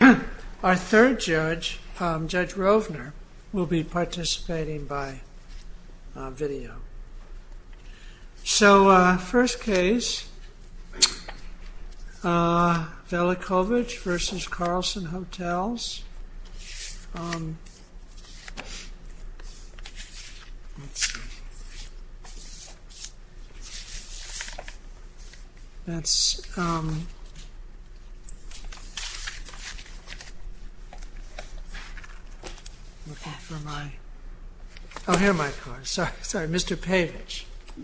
Our third judge, Judge Rovner, will be participating by video. So, first case, Velijkovic v. Carlson Hotels. Mr. Pavich, as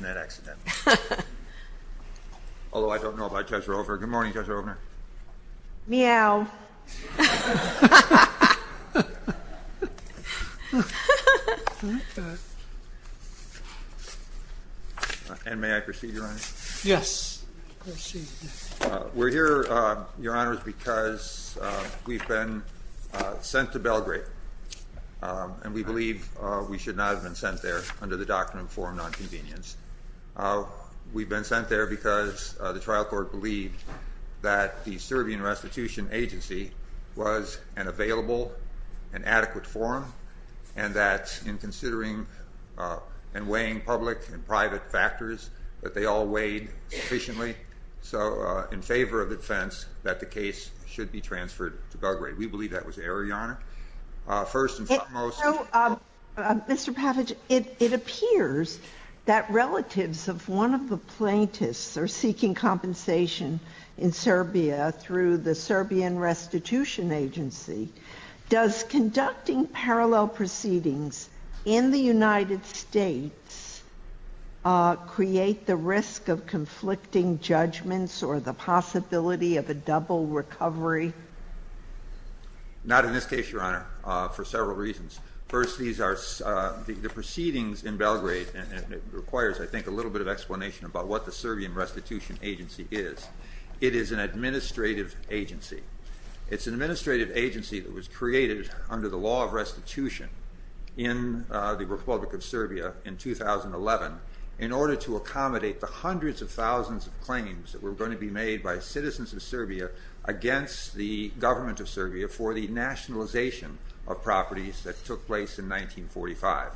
in cat. Although I don't know about Judge Rovner. Good morning, Judge Rovner. Meow. And may I proceed, Your Honor? Yes, proceed. We're here, Your Honor, because we've been sent to Belgrade. And we believe we should not have been sent there under the Doctrine of Foreign Nonconvenience. We've been sent there because the trial court believed that the Serbian Restitution Agency was an available and adequate forum. And that in considering and weighing public and private factors, that they all weighed sufficiently. So, in favor of defense, that the case should be transferred to Belgrade. First and foremost. Mr. Pavich, it appears that relatives of one of the plaintiffs are seeking compensation in Serbia through the Serbian Restitution Agency. Does conducting parallel proceedings in the United States create the risk of conflicting judgments or the possibility of a double recovery? Not in this case, Your Honor, for several reasons. First, the proceedings in Belgrade requires, I think, a little bit of explanation about what the Serbian Restitution Agency is. It is an administrative agency. It's an administrative agency that was created under the law of restitution in the Republic of Serbia in 2011. In order to accommodate the hundreds of thousands of claims that were going to be made by citizens of Serbia against the government of Serbia for the nationalization of properties that took place in 1945.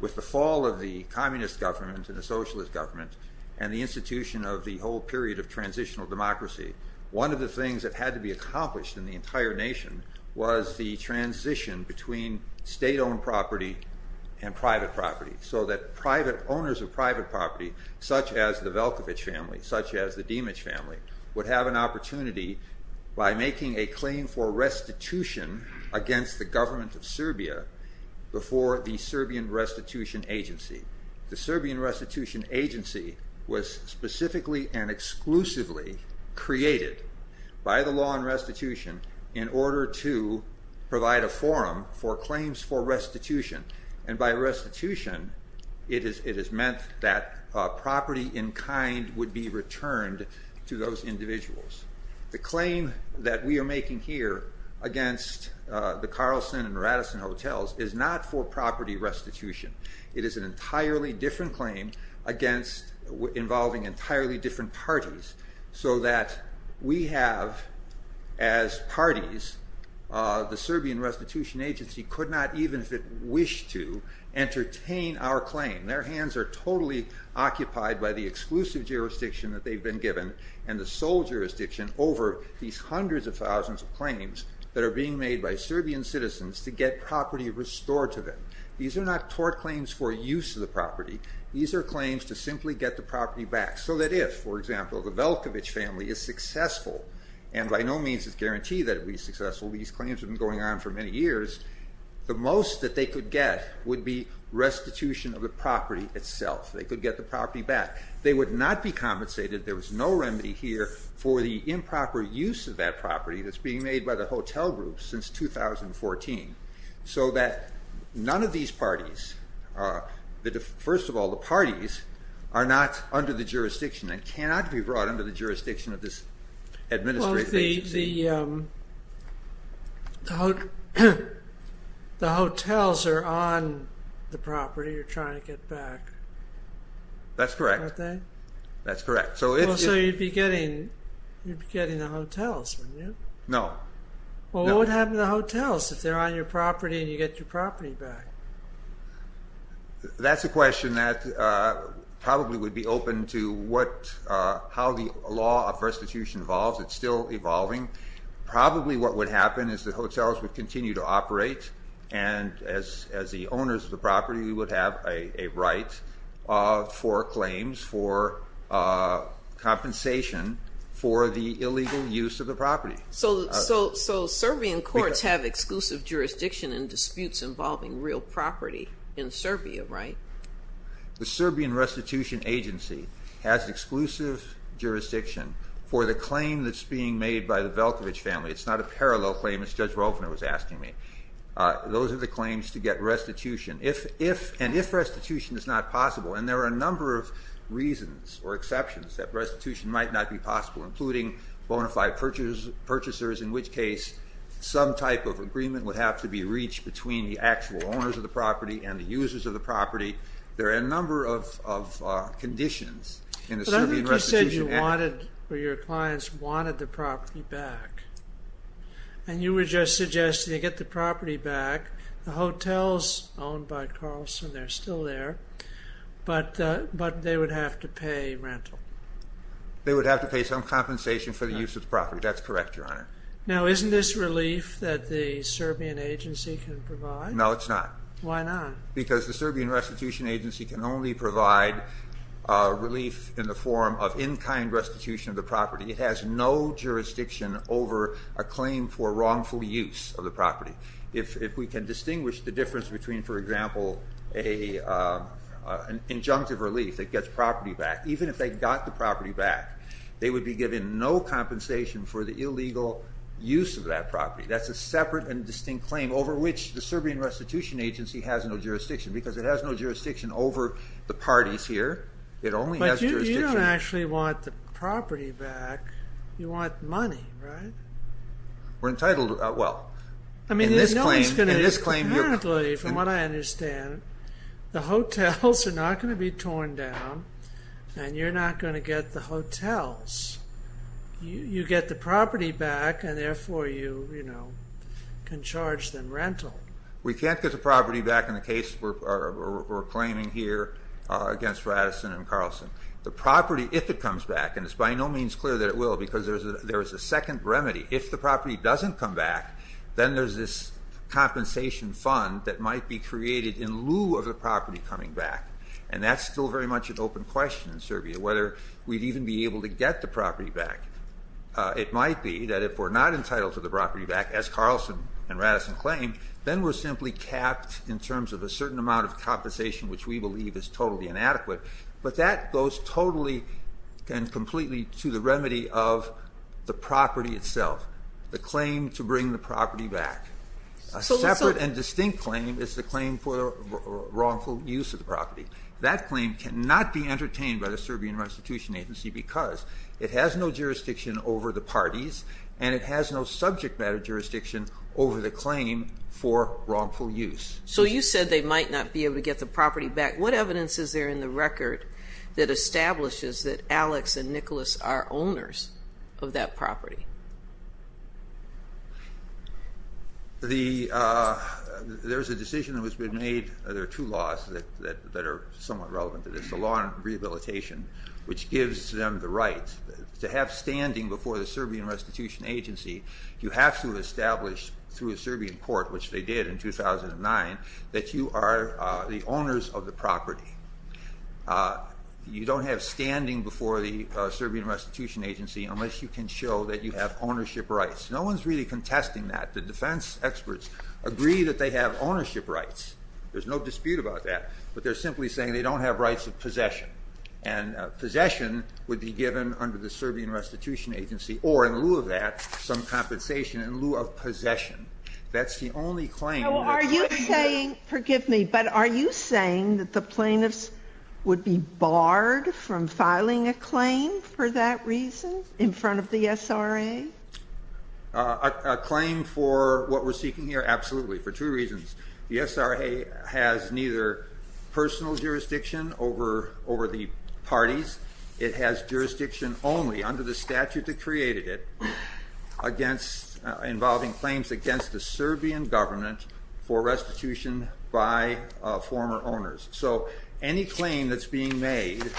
With the fall of the communist government and the socialist government and the institution of the whole period of transitional democracy. One of the things that had to be accomplished in the entire nation was the transition between state-owned property and private property. So that private owners of private property, such as the Veljkovic family, such as the Dimic family, would have an opportunity by making a claim for restitution against the government of Serbia before the Serbian Restitution Agency. The Serbian Restitution Agency was specifically and exclusively created by the law on restitution in order to provide a forum for claims for restitution. And by restitution, it is meant that property in kind would be returned to those individuals. The claim that we are making here against the Carlsen and Radisson hotels is not for property restitution. It is an entirely different claim involving entirely different parties so that we have, as parties, the Serbian Restitution Agency could not, even if it wished to, entertain our claim. Their hands are totally occupied by the exclusive jurisdiction that they've been given and the sole jurisdiction over these hundreds of thousands of claims that are being made by Serbian citizens to get property restored to them. These are not tort claims for use of the property. These are claims to simply get the property back. So that if, for example, the Veljkovic family is successful, and by no means is guaranteed that it will be successful, these claims have been going on for many years, the most that they could get would be restitution of the property itself. They could get the property back. They would not be compensated, there was no remedy here, for the improper use of that property that's being made by the hotel group since 2014. So that none of these parties, first of all the parties, are not under the jurisdiction and cannot be brought under the jurisdiction of this administrative agency. Well if the hotels are on the property you're trying to get back, aren't they? That's correct. So you'd be getting the hotels, wouldn't you? No. Well what would happen to the hotels if they're on your property and you get your property back? That's a question that probably would be open to how the law of restitution evolves. It's still evolving. Probably what would happen is the hotels would continue to operate and as the owners of the property we would have a right for claims for compensation for the illegal use of the property. So Serbian courts have exclusive jurisdiction in disputes involving real property in Serbia, right? The Serbian Restitution Agency has exclusive jurisdiction for the claim that's being made by the Veljkovic family. It's not a parallel claim as Judge Rovner was asking me. Those are the claims to get restitution. And if restitution is not possible, and there are a number of reasons or exceptions that restitution might not be possible, including bona fide purchasers, in which case some type of agreement would have to be reached between the actual owners of the property and the users of the property. There are a number of conditions in the Serbian Restitution Agency. Your clients wanted the property back and you were just suggesting they get the property back. The hotels owned by Karlsson, they're still there, but they would have to pay rental. They would have to pay some compensation for the use of the property. That's correct, Your Honor. Now isn't this relief that the Serbian Agency can provide? No, it's not. Why not? Because the Serbian Restitution Agency can only provide relief in the form of in-kind restitution of the property. It has no jurisdiction over a claim for wrongful use of the property. If we can distinguish the difference between, for example, an injunctive relief that gets property back, even if they got the property back, they would be given no compensation for the illegal use of that property. That's a separate and distinct claim over which the Serbian Restitution Agency has no jurisdiction because it has no jurisdiction over the parties here. It only has jurisdiction... But you don't actually want the property back. You want money, right? We're entitled, well... I mean, you know it's going to... In this claim, in this claim... Apparently, from what I understand, the hotels are not going to be torn down and you're not going to get the hotels. You get the property back and therefore you, you know, can charge them rental. We can't get the property back in the case we're claiming here against Radisson and Carlson. The property, if it comes back, and it's by no means clear that it will because there's a second remedy. If the property doesn't come back, then there's this compensation fund that might be created in lieu of the property coming back. And that's still very much an open question in Serbia, whether we'd even be able to get the property back. It might be that if we're not entitled to the property back, as Carlson and Radisson claim, then we're simply capped in terms of a certain amount of compensation which we believe is totally inadequate. But that goes totally and completely to the remedy of the property itself. The claim to bring the property back. A separate and distinct claim is the claim for wrongful use of the property. That claim cannot be entertained by the Serbian Restitution Agency because it has no jurisdiction over the parties and it has no subject matter jurisdiction over the claim for wrongful use. So you said they might not be able to get the property back. What evidence is there in the record that establishes that Alex and Nicholas are owners of that property? There's a decision that has been made. There are two laws that are somewhat relevant to this. The law on rehabilitation, which gives them the right to have standing before the Serbian Restitution Agency. You have to establish through a Serbian court, which they did in 2009, that you are the owners of the property. You don't have standing before the Serbian Restitution Agency unless you can show that you have ownership rights. No one's really contesting that. The defense experts agree that they have ownership rights. There's no dispute about that. But they're simply saying they don't have rights of possession. And possession would be given under the Serbian Restitution Agency or, in lieu of that, some compensation in lieu of possession. That's the only claim. Are you saying, forgive me, but are you saying that the plaintiffs would be barred from filing a claim for that reason in front of the SRA? A claim for what we're seeking here? Absolutely. For two reasons. The SRA has neither personal jurisdiction over the parties. It has jurisdiction only, under the statute that created it, involving claims against the Serbian government for restitution by former owners. So any claim that's being made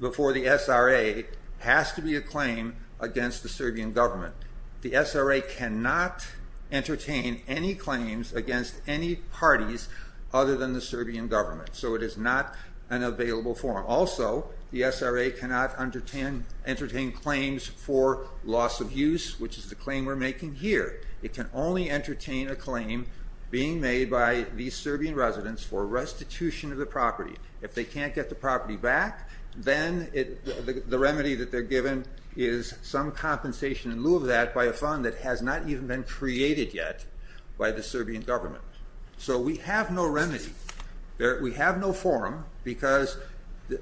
before the SRA has to be a claim against the Serbian government. The SRA cannot entertain any claims against any parties other than the Serbian government. So it is not an available form. Also, the SRA cannot entertain claims for loss of use, which is the claim we're making here. It can only entertain a claim being made by these Serbian residents for restitution of the property. If they can't get the property back, then the remedy that they're given is some compensation in lieu of that by a fund that has not even been created yet by the Serbian government. So we have no remedy. We have no forum, because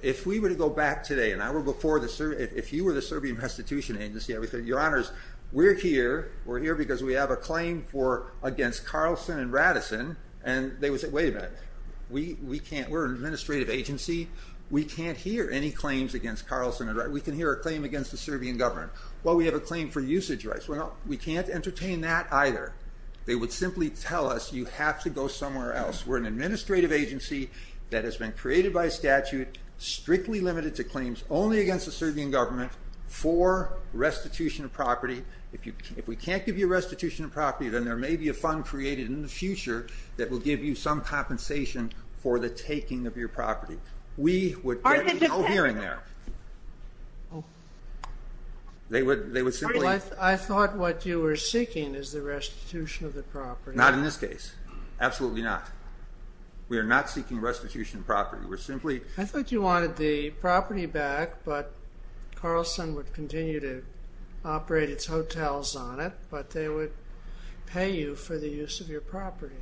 if we were to go back today, an hour before, if you were the Serbian Restitution Agency, I would say, your honors, we're here because we have a claim against Carlson and Radisson, and they would say, wait a minute. We're an administrative agency. We can't hear any claims against Carlson and Radisson. We can hear a claim against the Serbian government. Well, we have a claim for usage rights. We can't entertain that either. They would simply tell us you have to go somewhere else. We're an administrative agency that has been created by statute, strictly limited to claims only against the Serbian government for restitution of property. If we can't give you restitution of property, then there may be a fund created in the future that will give you some compensation for the taking of your property. We would get no hearing there. I thought what you were seeking is the restitution of the property. Not in this case. Absolutely not. We are not seeking restitution of property. I thought you wanted the property back, but Carlson would continue to operate its hotels on it, but they would pay you for the use of your property.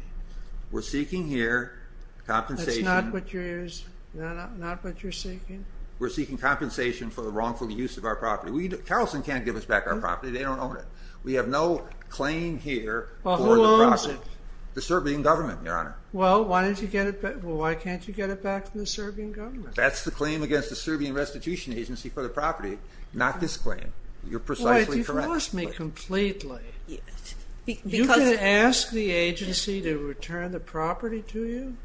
We're seeking here compensation. That's not what you're seeking? We're seeking compensation for the wrongful use of our property. Carlson can't give us back our property. They don't own it. We have no claim here for the property. Well, who owns it? The Serbian government, your honor. Well, why can't you get it back from the Serbian government? That's the claim against the Serbian Restitution Agency for the property, not this claim. You're precisely correct. You've lost me completely. You can ask the agency to return the property to you?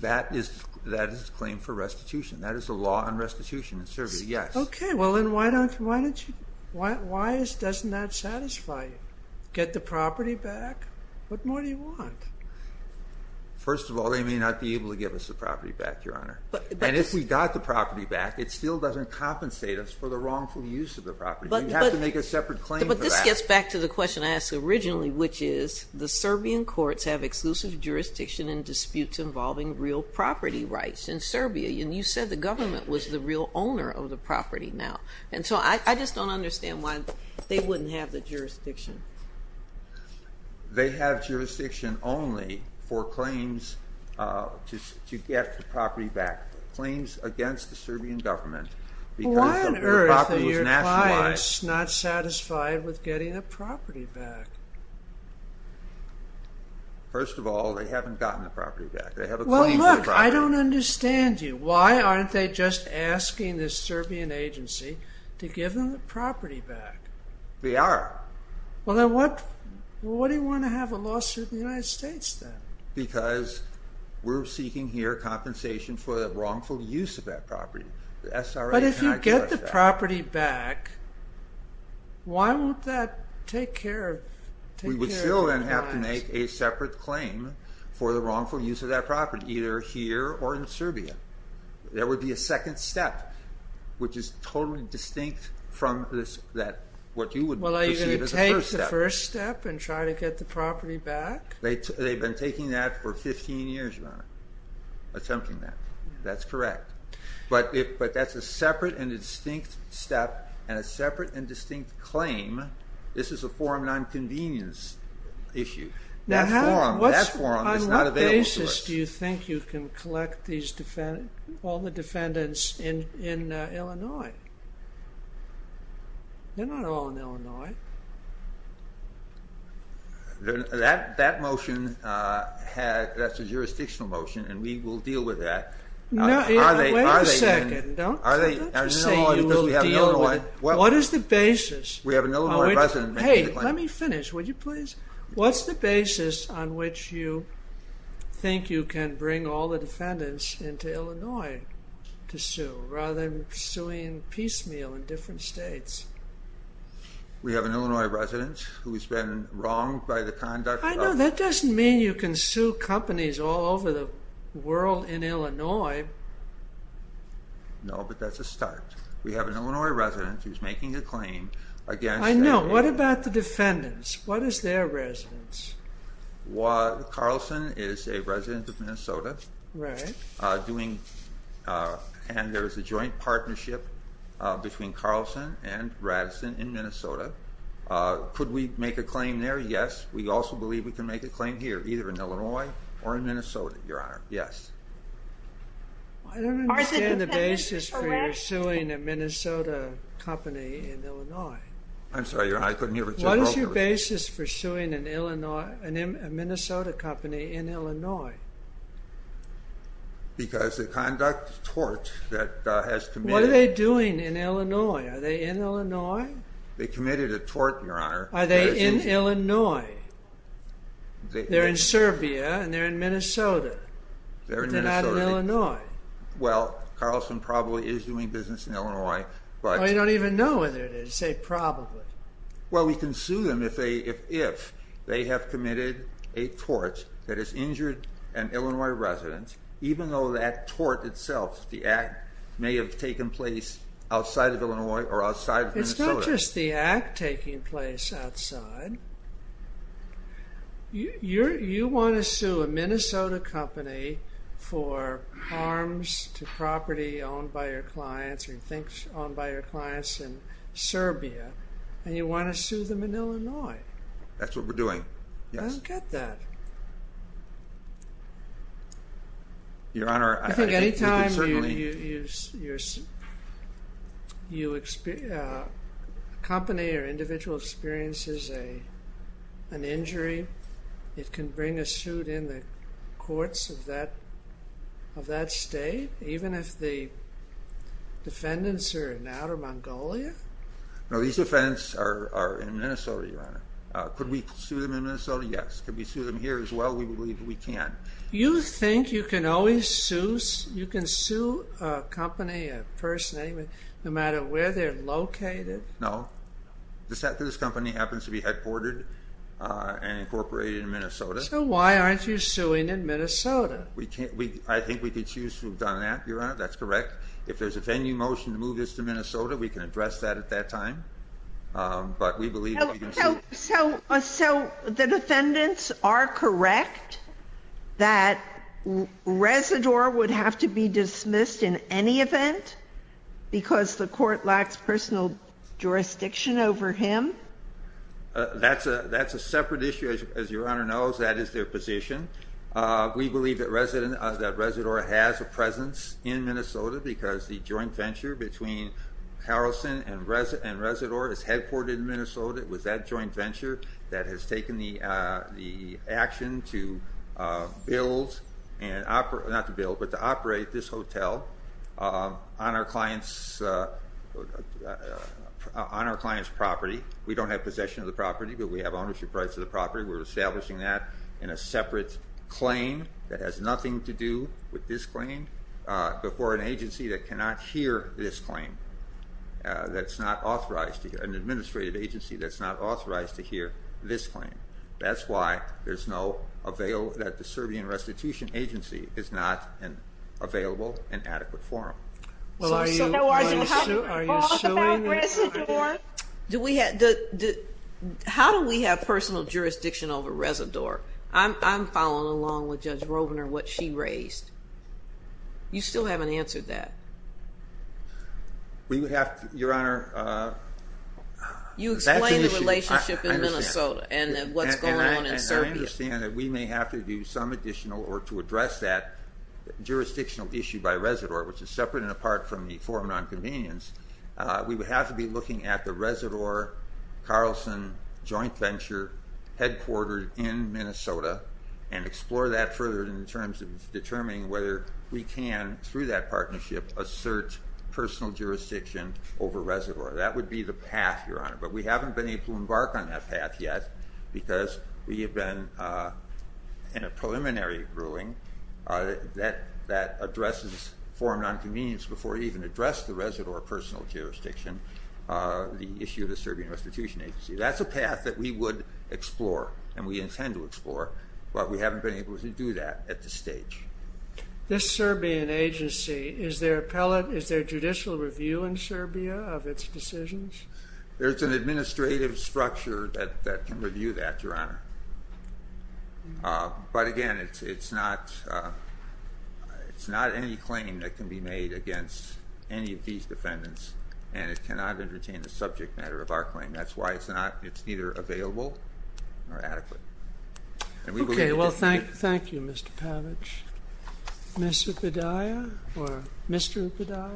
That is the claim for restitution. That is the law on restitution in Serbia, yes. Okay, well then why doesn't that satisfy you? Get the property back? What more do you want? First of all, they may not be able to give us the property back, your honor. And if we got the property back, it still doesn't compensate us for the wrongful use of the property. We'd have to make a separate claim for that. But this gets back to the question I asked originally, which is, the Serbian courts have exclusive jurisdiction in disputes involving real property rights in Serbia, and you said the government was the real owner of the property now. And so I just don't understand why they wouldn't have the jurisdiction. They have jurisdiction only for claims to get the property back. Claims against the Serbian government because the property was nationalized. Why on earth are your clients not satisfied with getting the property back? First of all, they haven't gotten the property back. Well look, I don't understand you. Why aren't they just asking the Serbian agency to give them the property back? They are. Well then what do you want to have a lawsuit in the United States then? Because we're seeking here compensation for the wrongful use of that property. But if you get the property back, why won't that take care of your clients? We would still then have to make a separate claim for the wrongful use of that property, either here or in Serbia. There would be a second step, which is totally distinct from what you would perceive as a first step. Well are you going to take the first step and try to get the property back? They've been taking that for 15 years, Your Honor. Attempting that. That's correct. But that's a separate and distinct step and a separate and distinct claim. This is a form of non-convenience issue. That form is not available to us. On what basis do you think you can collect all the defendants in Illinois? They're not all in Illinois. That motion, that's a jurisdictional motion and we will deal with that. Wait a second. Don't say you will deal with it. What is the basis? Hey, let me finish, would you please? What's the basis on which you think you can bring all the defendants into Illinois to sue, rather than suing piecemeal in different states? We have an Illinois resident who's been wronged by the conduct of... I know, that doesn't mean you can sue companies all over the world in Illinois. No, but that's a start. We have an Illinois resident who's making a claim against... I know, what about the defendants? What is their residence? Carlson is a resident of Minnesota. Right. And there's a joint partnership between Carlson and Raddison in Minnesota. Could we make a claim there? Yes. We also believe we can make a claim here, either in Illinois or in Minnesota, Your Honor. Yes. I don't understand the basis for you suing a Minnesota company in Illinois. I'm sorry, Your Honor, I couldn't hear what you're talking about. What is your basis for suing a Minnesota company in Illinois? Because the conduct of tort that has committed... What are they doing in Illinois? Are they in Illinois? They committed a tort, Your Honor. Are they in Illinois? They're in Serbia and they're in Minnesota. They're in Minnesota. They're not in Illinois. Well, Carlson probably is doing business in Illinois, but... I don't even know whether it is. Say probably. Well, we can sue them if they have committed a tort that has injured an Illinois resident, even though that tort itself, the act, may have taken place outside of Illinois or outside of Minnesota. It's not just the act taking place outside. You want to sue a Minnesota company for harms to property owned by your clients or you think owned by your clients in Serbia, and you want to sue them in Illinois. That's what we're doing, yes. I don't get that. Your Honor, I think that certainly... If a company or individual experiences an injury, it can bring a suit in the courts of that state, even if the defendants are in outer Mongolia? No, these defendants are in Minnesota, Your Honor. Could we sue them in Minnesota? Yes. Could we sue them here as well? We believe we can. You think you can always sue a company, a person, no matter where they're located? No. This company happens to be headquartered and incorporated in Minnesota. So why aren't you suing in Minnesota? I think we could choose to have done that, Your Honor. That's correct. If there's a venue motion to move this to Minnesota, we can address that at that time. So the defendants are correct that Residor would have to be dismissed in any event because the court lacks personal jurisdiction over him? That's a separate issue, as Your Honor knows. That is their position. We believe that Residor has a presence in Minnesota because the joint venture between Harrelson and Residor is headquartered in Minnesota. It was that joint venture that has taken the action to build, not to build, but to operate this hotel on our client's property. We don't have possession of the property, but we have ownership rights to the property. We're establishing that in a separate claim that has nothing to do with this claim before an agency that cannot hear this claim, that's not authorized, an administrative agency that's not authorized to hear this claim. That's why there's no, that the Serbian Restitution Agency is not available in adequate form. So are you suing Residor? How do we have personal jurisdiction over Residor? I'm following along with Judge Robner what she raised. You still haven't answered that. We would have to, Your Honor, that's an issue. You explained the relationship in Minnesota and what's going on in Serbia. And I understand that we may have to do some additional work to address that jurisdictional issue by Residor, which is separate and apart from the form of nonconvenience. We would have to be looking at the Residor-Harrelson joint venture headquartered in Minnesota and explore that further in terms of determining whether we can, through that partnership, assert personal jurisdiction over Residor. That would be the path, Your Honor, but we haven't been able to embark on that path yet because we have been in a preliminary ruling that addresses form of nonconvenience before we even addressed the Residor personal jurisdiction, the issue of the Serbian Restitution Agency. That's a path that we would explore and we intend to explore, but we haven't been able to do that at this stage. This Serbian agency, is there judicial review in Serbia of its decisions? There's an administrative structure that can review that, Your Honor. But again, it's not any claim that can be made against any of these defendants and it cannot entertain the subject matter of our claim. That's why it's not, it's neither available nor adequate. Okay, well thank you, Mr. Pavich. Mr. Padilla or Mr. Padilla?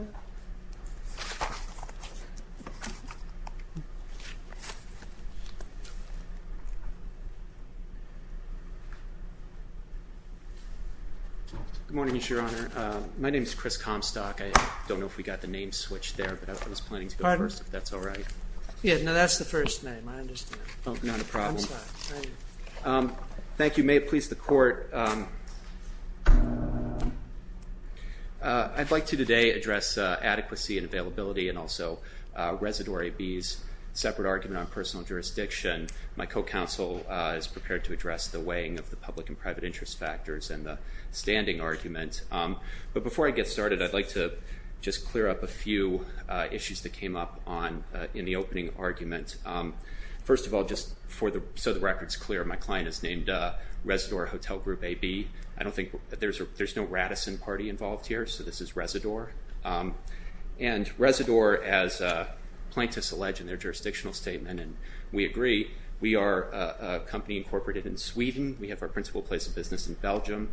Good morning, Your Honor. My name is Chris Comstock. I don't know if we got the name switched there, but I was planning to go first if that's all right. Yeah, no, that's the first name, I understand. Oh, not a problem. I'm sorry. Thank you. May it please the Court. I'd like to today address adequacy and availability and also Residor AB's separate argument on personal jurisdiction. My co-counsel is prepared to address the weighing of the public and private interest factors and the standing argument. But before I get started, I'd like to just clear up a few issues that came up in the opening argument. First of all, just so the record's clear, my client is named Residor Hotel Group AB. I don't think, there's no Radisson Party involved here, so this is Residor. And Residor, as plaintiffs allege in their jurisdictional statement, and we agree, we are a company incorporated in Sweden. We have our principal place of business in Belgium.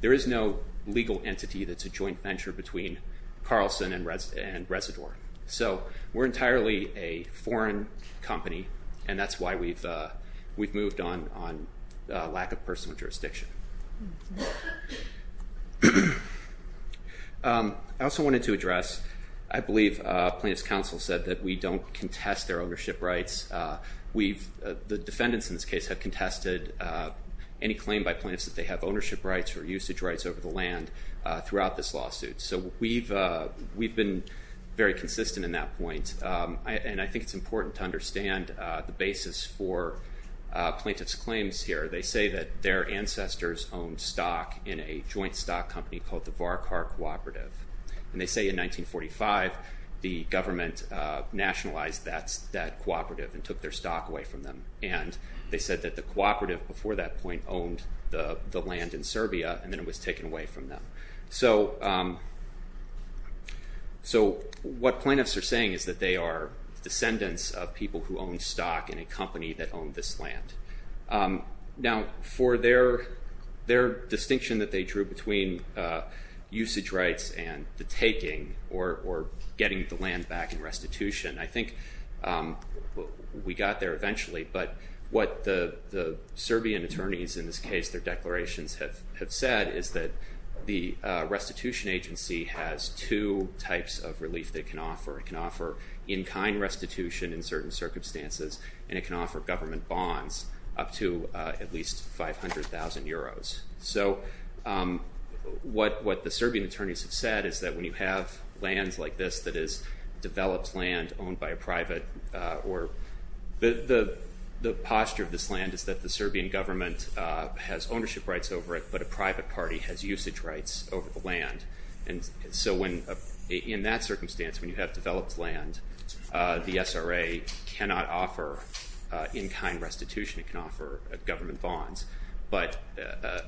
There is no legal entity that's a joint venture between Carlson and Residor. So we're entirely a foreign company, and that's why we've moved on lack of personal jurisdiction. I also wanted to address, I believe plaintiffs' counsel said that we don't contest their ownership rights. The defendants in this case have contested any claim by plaintiffs that they have ownership rights or usage rights over the land throughout this lawsuit. So we've been very consistent in that point, and I think it's important to understand the basis for plaintiffs' claims here. They say that their ancestors owned stock in a joint stock company called the Varkar Cooperative. And they say in 1945, the government nationalized that cooperative and took their stock away from them. And they said that the cooperative before that point owned the land in Serbia, and then it was taken away from them. So what plaintiffs are saying is that they are descendants of people who owned stock in a company that owned this land. Now, for their distinction that they drew between usage rights and the taking or getting the land back in restitution, I think we got there eventually, but what the Serbian attorneys in this case, their declarations have said, is that the restitution agency has two types of relief they can offer. It can offer in-kind restitution in certain circumstances, and it can offer government bonds up to at least 500,000 euros. So what the Serbian attorneys have said is that when you have lands like this that is developed land owned by a private, or the posture of this land is that the Serbian government has ownership rights over it, but a private party has usage rights over the land. And so in that circumstance, when you have developed land, the SRA cannot offer in-kind restitution. It can offer government bonds. But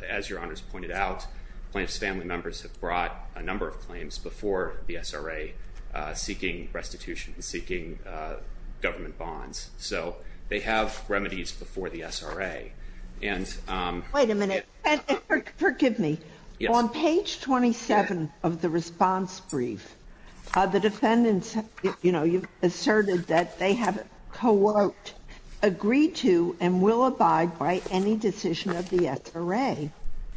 as Your Honors pointed out, plaintiffs' family members have brought a number of claims before the SRA seeking restitution and seeking government bonds. So they have remedies before the SRA. Wait a minute. Forgive me. On page 27 of the response brief, the defendants asserted that they have, quote, agreed to and will abide by any decision of the SRA.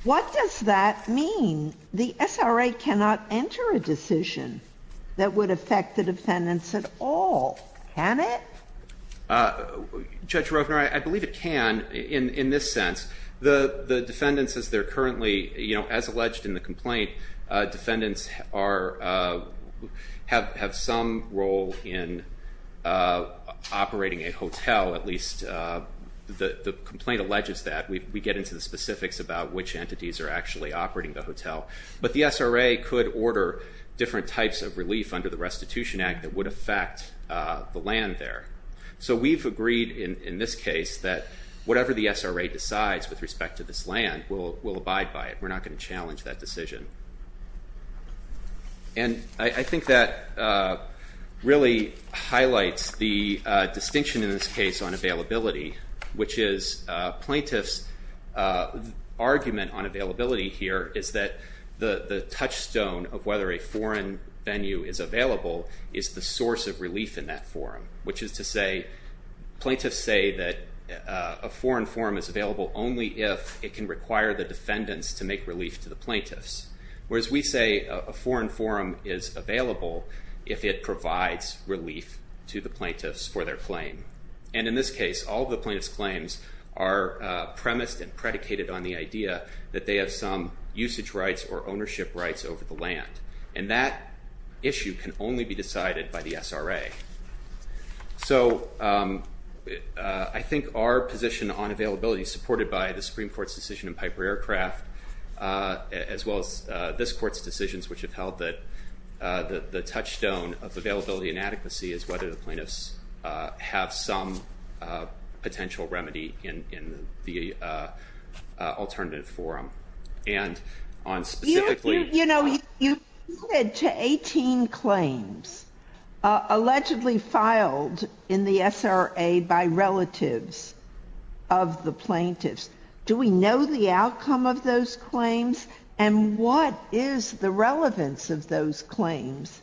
What does that mean? The SRA cannot enter a decision that would affect the defendants at all. Can it? Judge Rovner, I believe it can in this sense. The defendants, as they're currently, you know, as alleged in the complaint, defendants have some role in operating a hotel. At least the complaint alleges that. We get into the specifics about which entities are actually operating the hotel. But the SRA could order different types of relief under the Restitution Act that would affect the land there. So we've agreed in this case that whatever the SRA decides with respect to this land, we'll abide by it. We're not going to challenge that decision. And I think that really highlights the distinction in this case on availability, which is plaintiffs' argument on availability here is that the touchstone of whether a foreign venue is available is the source of relief in that forum. Which is to say, plaintiffs say that a foreign forum is available only if it can require the defendants to make relief to the plaintiffs. Whereas we say a foreign forum is available if it provides relief to the plaintiffs for their claim. And in this case, all of the plaintiffs' claims are premised and predicated on the idea that they have some usage rights or ownership rights over the land. And that issue can only be decided by the SRA. So I think our position on availability, supported by the Supreme Court's decision in Piper Aircraft, as well as this court's decisions which have held that the touchstone of availability and adequacy is whether the plaintiffs have some potential remedy in the alternative forum. And on specifically- You know, you alluded to 18 claims allegedly filed in the SRA by relatives of the plaintiffs. Do we know the outcome of those claims? And what is the relevance of those claims,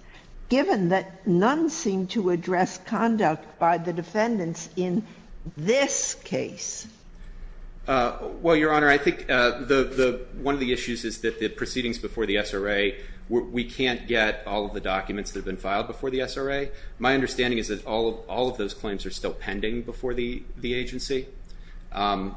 given that none seem to address conduct by the defendants in this case? Well, Your Honor, I think one of the issues is that the proceedings before the SRA, we can't get all of the documents that have been filed before the SRA. My understanding is that all of those claims are still pending before the agency. And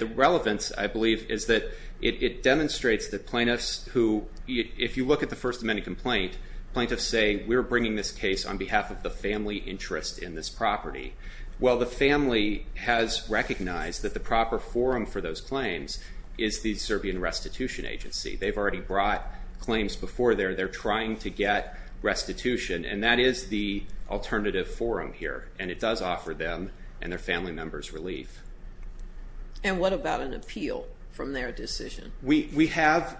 the relevance, I believe, is that it demonstrates that plaintiffs who- If you look at the First Amendment complaint, plaintiffs say, we're bringing this case on behalf of the family interest in this property. Well, the family has recognized that the proper forum for those claims is the Serbian Restitution Agency. They've already brought claims before there. They're trying to get restitution. And that is the alternative forum here. And it does offer them and their family members relief. And what about an appeal from their decision? We have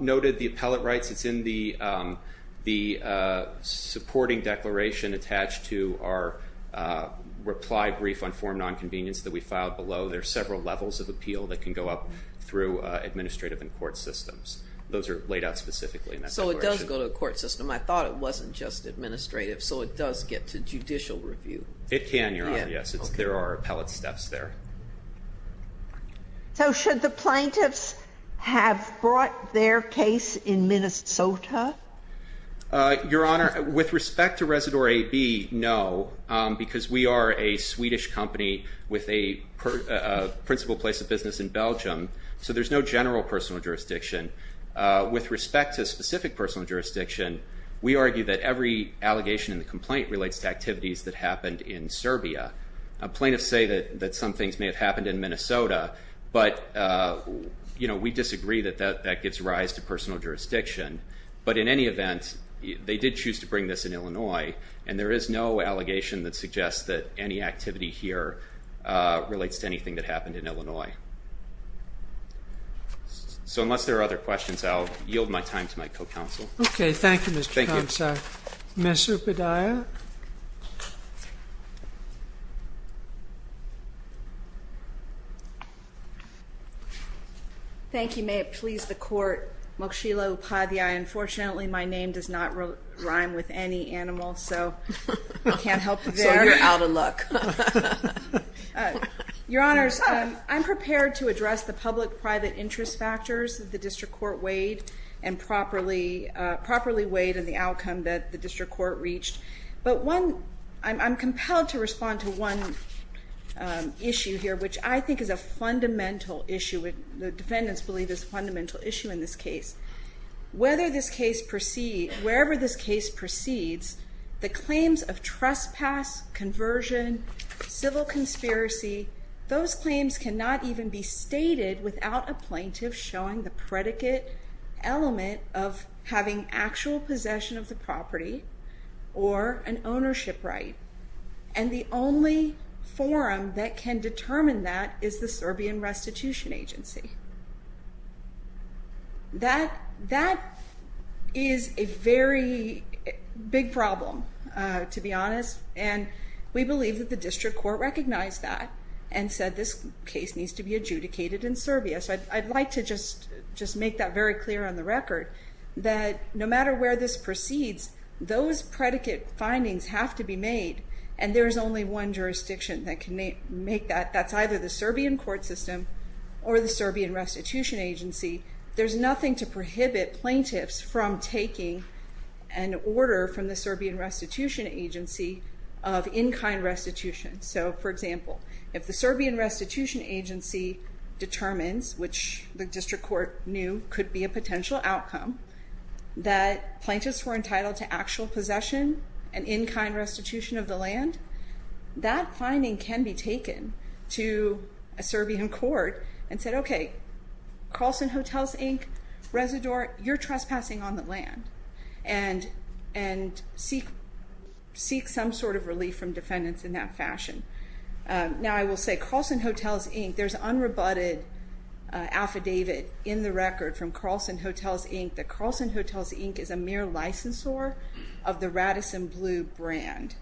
noted the appellate rights. It's in the supporting declaration attached to our reply brief on forum nonconvenience that we filed below. There are several levels of appeal that can go up through administrative and court systems. Those are laid out specifically in that declaration. So it does go to a court system. I thought it wasn't just administrative. So it does get to judicial review. It can, Your Honor, yes. There are appellate steps there. So should the plaintiffs have brought their case in Minnesota? Your Honor, with respect to Residore AB, no. Because we are a Swedish company with a principal place of business in Belgium. So there's no general personal jurisdiction. With respect to specific personal jurisdiction, we argue that every allegation in the complaint relates to activities that happened in Serbia. Plaintiffs say that some things may have happened in Minnesota. But we disagree that that gives rise to personal jurisdiction. But in any event, they did choose to bring this in Illinois. And there is no allegation that suggests that any activity here relates to anything that happened in Illinois. So unless there are other questions, I'll yield my time to my co-counsel. Okay. Thank you, Mr. Comstock. Thank you. Ms. Upadhyaya. Thank you. May it please the court. Mokshila Upadhyaya. Unfortunately, my name does not rhyme with any animal. So I can't help there. So you're out of luck. Your Honors, I'm prepared to address the public-private interest factors that the district court weighed and properly weighed in the outcome that the district court reached. But one, I'm compelled to respond to one issue here, which I think is a fundamental issue. The defendants believe it's a fundamental issue in this case. Wherever this case proceeds, the claims of trespass, conversion, civil conspiracy, those claims cannot even be stated without a plaintiff showing the predicate element of having actual possession of the property or an ownership right. And the only forum that can determine that is the Serbian Restitution Agency. That is a very big problem, to be honest. And we believe that the district court recognized that and said this case needs to be adjudicated in Serbia. So I'd like to just make that very clear on the record that no matter where this proceeds, those predicate findings have to be made and there's only one jurisdiction that can make that. That's either the Serbian court system or the Serbian Restitution Agency. There's nothing to prohibit plaintiffs from taking an order from the Serbian Restitution Agency of in-kind restitution. So, for example, if the Serbian Restitution Agency determines, which the district court knew could be a potential outcome, that plaintiffs were entitled to actual possession and in-kind restitution of the land, that finding can be taken to a Serbian court and said, okay, Carlson Hotels, Inc., Residor, you're trespassing on the land. And seek some sort of relief from defendants in that fashion. Now, I will say Carlson Hotels, Inc., there's unrebutted affidavit in the record from Carlson Hotels, Inc., that Carlson Hotels, Inc. is a mere licensor of the Radisson Blu brand.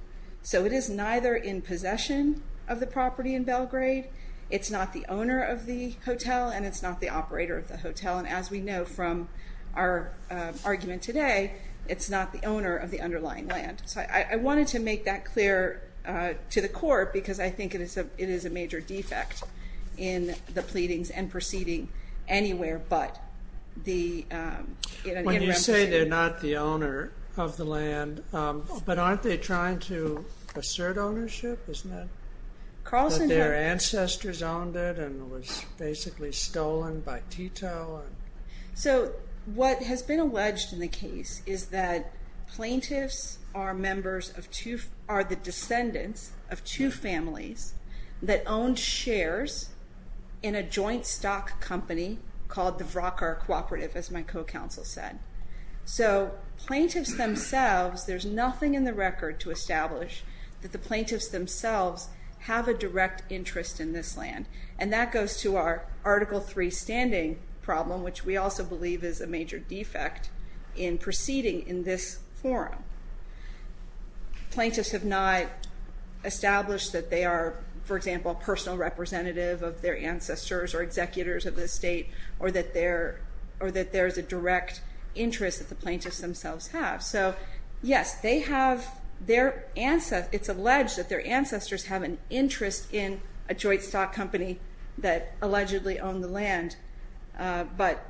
So it is neither in possession of the property in Belgrade, it's not the owner of the hotel, and it's not the operator of the hotel. And as we know from our argument today, it's not the owner of the underlying land. So I wanted to make that clear to the court because I think it is a major defect in the pleadings and proceeding anywhere but the... When you say they're not the owner of the land, but aren't they trying to assert ownership, isn't it? But their ancestors owned it and it was basically stolen by Tito. So what has been alleged in the case is that plaintiffs are the descendants of two families that owned shares in a joint stock company called the Vrakar Cooperative, as my co-counsel said. So plaintiffs themselves, there's nothing in the record to establish that the plaintiffs themselves have a direct interest in this land. And that goes to our Article 3 standing problem, which we also believe is a major defect in proceeding in this forum. Plaintiffs have not established that they are, for example, a personal representative of their ancestors or executors of the estate, or that there's a direct interest that the plaintiffs themselves have. So yes, they have... It's alleged that their ancestors have an interest in a joint stock company that allegedly owned the land. But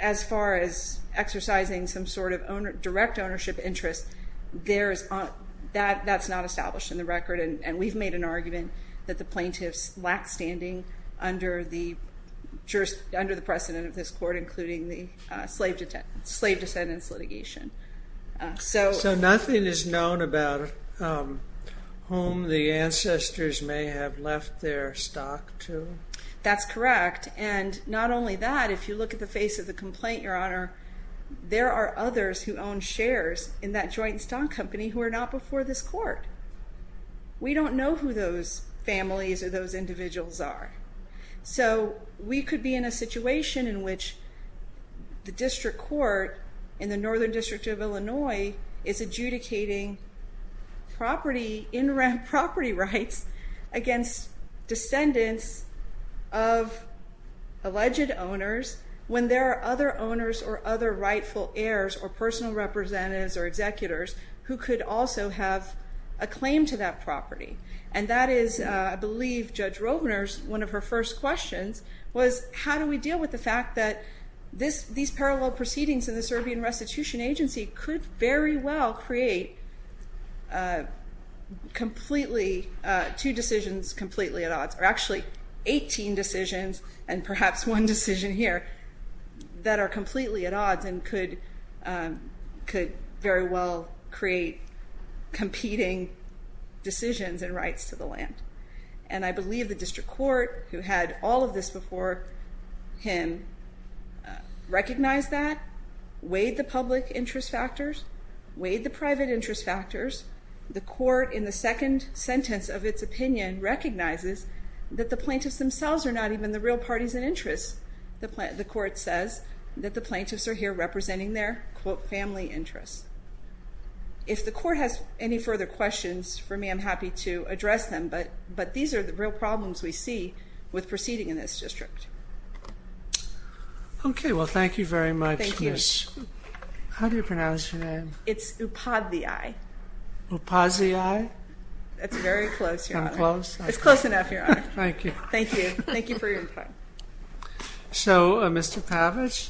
as far as exercising some sort of direct ownership interest, that's not established in the record. And we've made an argument that the plaintiffs lack standing under the precedent of this court, including the slave descendants litigation. So nothing is known about whom the ancestors may have left their stock to? That's correct. And not only that, if you look at the face of the complaint, Your Honor, there are others who own shares in that joint stock company who are not before this court. We don't know who those families or those individuals are. So we could be in a situation in which the district court in the Northern District of Illinois is adjudicating property, in-ramp property rights against descendants of alleged owners, when there are other owners or other rightful heirs or personal representatives or executors who could also have a claim to that property. And that is, I believe, Judge Rovner's, one of her first questions was, how do we deal with the fact that these parallel proceedings in the Serbian Restitution Agency could very well create two decisions completely at odds? Or actually, 18 decisions and perhaps one decision here that are completely at odds and could very well create competing decisions and rights to the land. And I believe the district court, who had all of this before him, recognized that, weighed the public interest factors, weighed the private interest factors. The court, in the second sentence of its opinion, recognizes that the plaintiffs themselves are not even the real parties in interest. The court says that the plaintiffs are here representing their, quote, family interests. If the court has any further questions for me, I'm happy to address them. But these are the real problems we see with proceeding in this district. Okay, well, thank you very much, Ms. How do you pronounce your name? It's Upadhyay. Upadhyay? That's very close, Your Honor. I'm close? It's close enough, Your Honor. Thank you. Thank you. Thank you for your time. So, Mr. Pavich?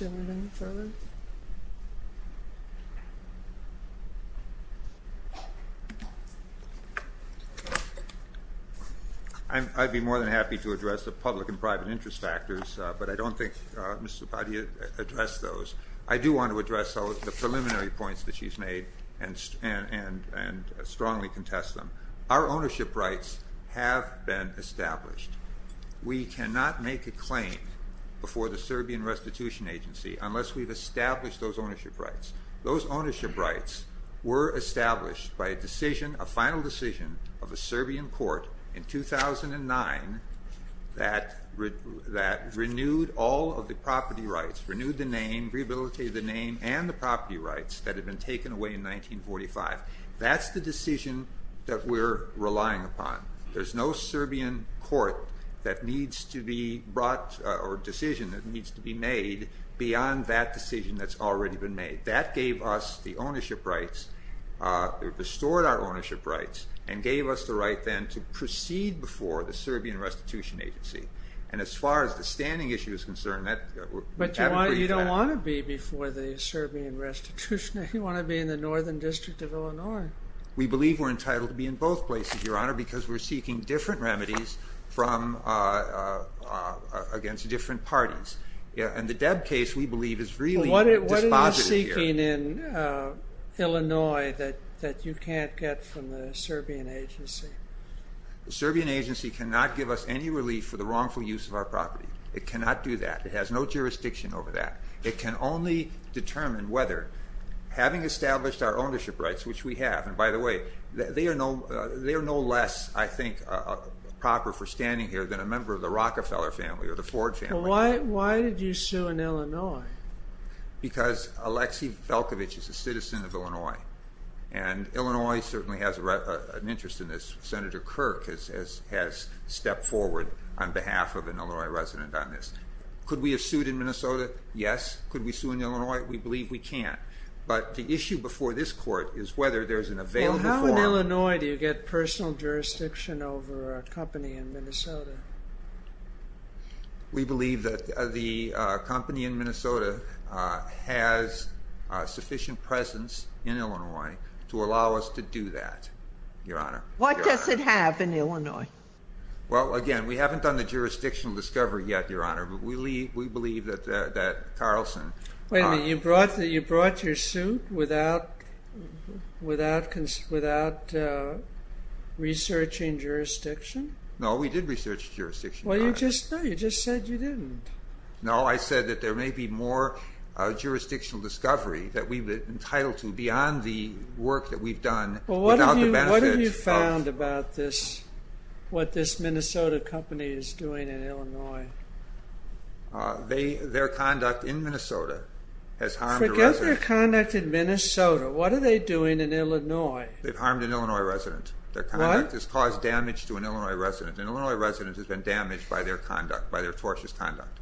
I'd be more than happy to address the public and private interest factors, but I don't think Ms. Upadhyay addressed those. I do want to address the preliminary points that she's made and strongly contest them. Our ownership rights have been established. We cannot make a claim before the Serbian Restitution Agency unless we've established those ownership rights. Those ownership rights were established by a decision, a final decision, of a Serbian court in 2009 that renewed all of the property rights, renewed the name, rehabilitated the name and the property rights that had been taken away in 1945. That's the decision that we're relying upon. There's no Serbian court that needs to be brought or decision that needs to be made beyond that decision that's already been made. That gave us the ownership rights. It restored our ownership rights and gave us the right then to proceed before the Serbian Restitution Agency. And as far as the standing issue is concerned, we haven't agreed to that. But you don't want to be before the Serbian Restitution Agency. You want to be in the Northern District of Illinois. We believe we're entitled to be in both places, Your Honor, because we're seeking different remedies against different parties. And the Debb case, we believe, is really dispositive here. What are you seeking in Illinois that you can't get from the Serbian agency? The Serbian agency cannot give us any relief for the wrongful use of our property. It cannot do that. It has no jurisdiction over that. It can only determine whether, having established our ownership rights, which we have, and by the way, they are no less, I think, proper for standing here than a member of the Rockefeller family or the Ford family. Why did you sue in Illinois? Because Alexi Velkovich is a citizen of Illinois. And Illinois certainly has an interest in this. Senator Kirk has stepped forward on behalf of an Illinois resident on this. Could we have sued in Minnesota? Yes. Could we sue in Illinois? We believe we can't. But the issue before this Court is whether there's an available form... Well, how in Illinois do you get personal jurisdiction over a company in Minnesota? We believe that the company in Minnesota has sufficient presence in Illinois to allow us to do that, Your Honor. What does it have in Illinois? Well, again, we haven't done the jurisdictional discovery yet, Your Honor, but we believe that Carlson... Wait a minute. You brought your suit without researching jurisdiction? No, we did research jurisdiction, Your Honor. Well, you just said you didn't. No, I said that there may be more jurisdictional discovery that we've been entitled to beyond the work that we've done without the benefit of... What this Minnesota company is doing in Illinois. Their conduct in Minnesota has harmed a resident. Forget their conduct in Minnesota. What are they doing in Illinois? They've harmed an Illinois resident. Their conduct has caused damage to an Illinois resident. An Illinois resident has been damaged by their conduct, by their tortious conduct.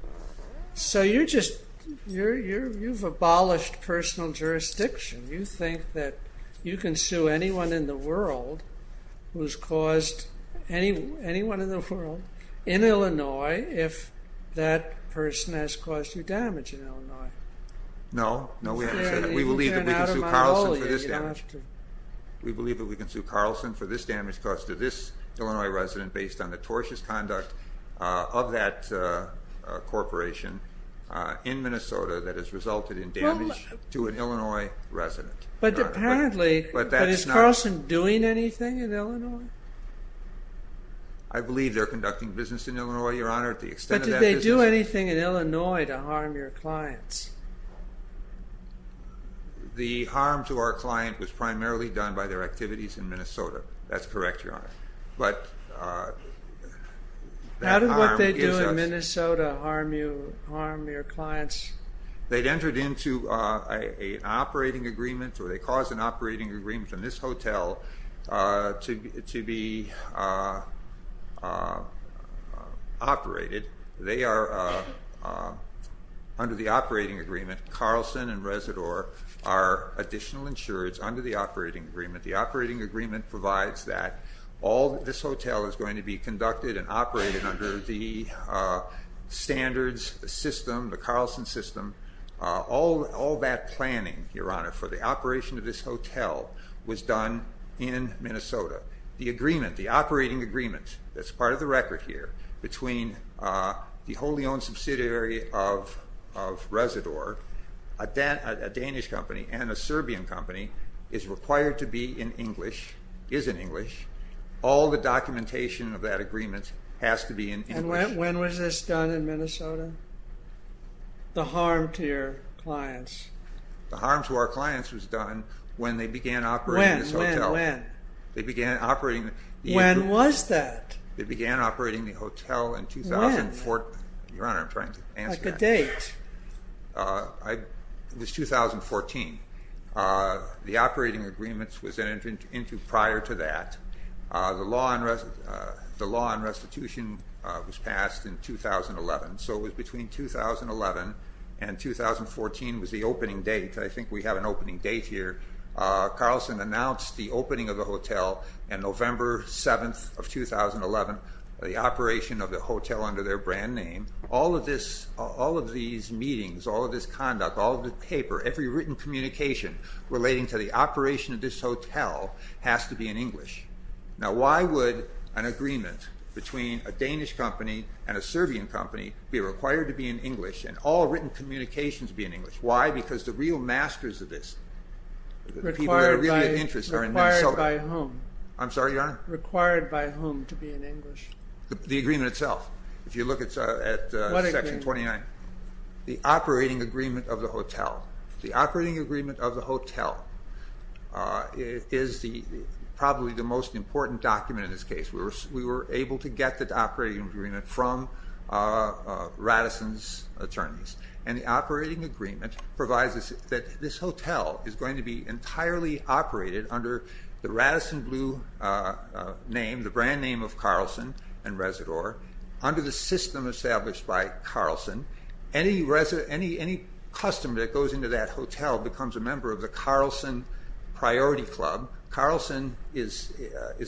So you've abolished personal jurisdiction. You think that you can sue anyone in the world who's caused... anyone in the world in Illinois if that person has caused you damage in Illinois? No. No, we haven't said that. We believe that we can sue Carlson for this damage. We believe that we can sue Carlson for this damage caused to this Illinois resident based on the tortious conduct of that corporation in Minnesota that has resulted in damage to an Illinois resident. But apparently, is Carlson doing anything in Illinois? I believe they're conducting business in Illinois, Your Honor. But did they do anything in Illinois to harm your clients? The harm to our client was primarily done by their activities in Minnesota. That's correct, Your Honor. But that harm is... How did what they do in Minnesota harm your clients? They'd entered into an operating agreement or they caused an operating agreement in this hotel to be operated. They are, under the operating agreement, Carlson and Resador are additional insurers under the operating agreement. The operating agreement provides that. All this hotel is going to be conducted and operated under the standards system, the Carlson system. All that planning, Your Honor, for the operation of this hotel was done in Minnesota. The agreement, the operating agreement that's part of the record here between the wholly owned subsidiary of Resador, a Danish company and a Serbian company is required to be in English, is in English. All the documentation of that agreement has to be in English. And when was this done in Minnesota? The harm to your clients? The harm to our clients was done when they began operating this hotel. When, when, when? They began operating... When was that? They began operating the hotel in 2004... When? Your Honor, I'm trying to answer that. Like a date. It was 2014. The operating agreement was entered into prior to that. The law on restitution was passed in 2011. So it was between 2011 and 2014 was the opening date. I think we have an opening date here. Carlson announced the opening of the hotel on November 7th of 2011, the operation of the hotel under their brand name. All of these meetings, all of this conduct, all of the paper, every written communication relating to the operation of this hotel has to be in English. Now why would an agreement between a Danish company and a Serbian company be required to be in English and all written communications be in English? Why? Because the real masters of this... Required by whom? I'm sorry, Your Honor? Required by whom to be in English? The agreement itself. If you look at Section 29... What agreement? The operating agreement of the hotel. The operating agreement of the hotel is probably the most important document in this case. We were able to get the operating agreement from Radisson's attorneys. And the operating agreement provides us that this hotel is going to be entirely operated under the Radisson Blue name, the brand name of Carlsen and Residor, under the system established by Carlsen. Any customer that goes into that hotel becomes a member of the Carlsen Priority Club. Carlsen is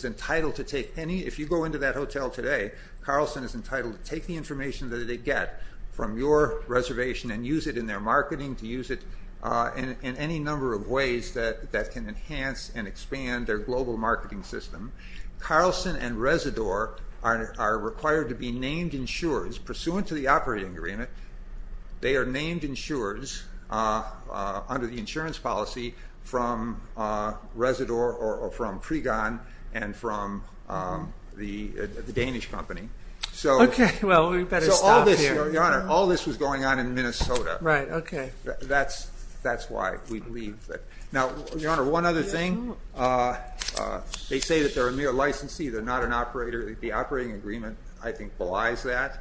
entitled to take any... If you go into that hotel today, Carlsen is entitled to take the information that they get from your reservation and use it in their marketing, to use it in any number of ways that can enhance and expand their global marketing system. Carlsen and Residor are required to be named insurers. Pursuant to the operating agreement, they are named insurers under the insurance policy from Residor or from Pregon and from the Danish company. Okay, well, we better stop here. Your Honor, all this was going on in Minnesota. Right, okay. That's why we believe that... Now, Your Honor, one other thing. They say that they're a mere licensee. They're not an operator. The operating agreement, I think, belies that.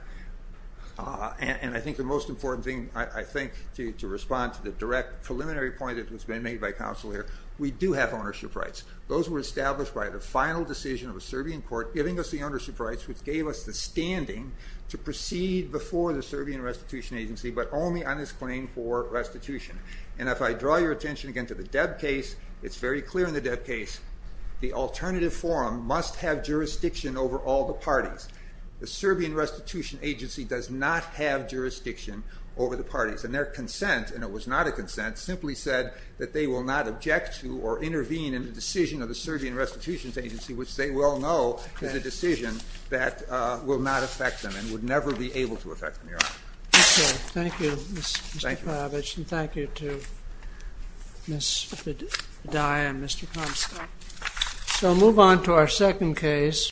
And I think the most important thing, I think, to respond to the direct preliminary point that's been made by counsel here, we do have ownership rights. Those were established by the final decision of a Serbian court giving us the ownership rights, which gave us the standing to proceed before the Serbian Restitution Agency, but only on its claim for restitution. And if I draw your attention again to the Deb case, it's very clear in the Deb case the alternative forum must have jurisdiction over all the parties. The Serbian Restitution Agency does not have jurisdiction over the parties. And their consent, and it was not a consent, simply said that they will not object to or intervene in the decision of the Serbian Restitution Agency, which they well know is a decision that will not affect them and would never be able to affect them, Your Honor. Thank you, Mr. Pavic. And thank you to Ms. Padilla and Mr. Comstock. So move on to our second case.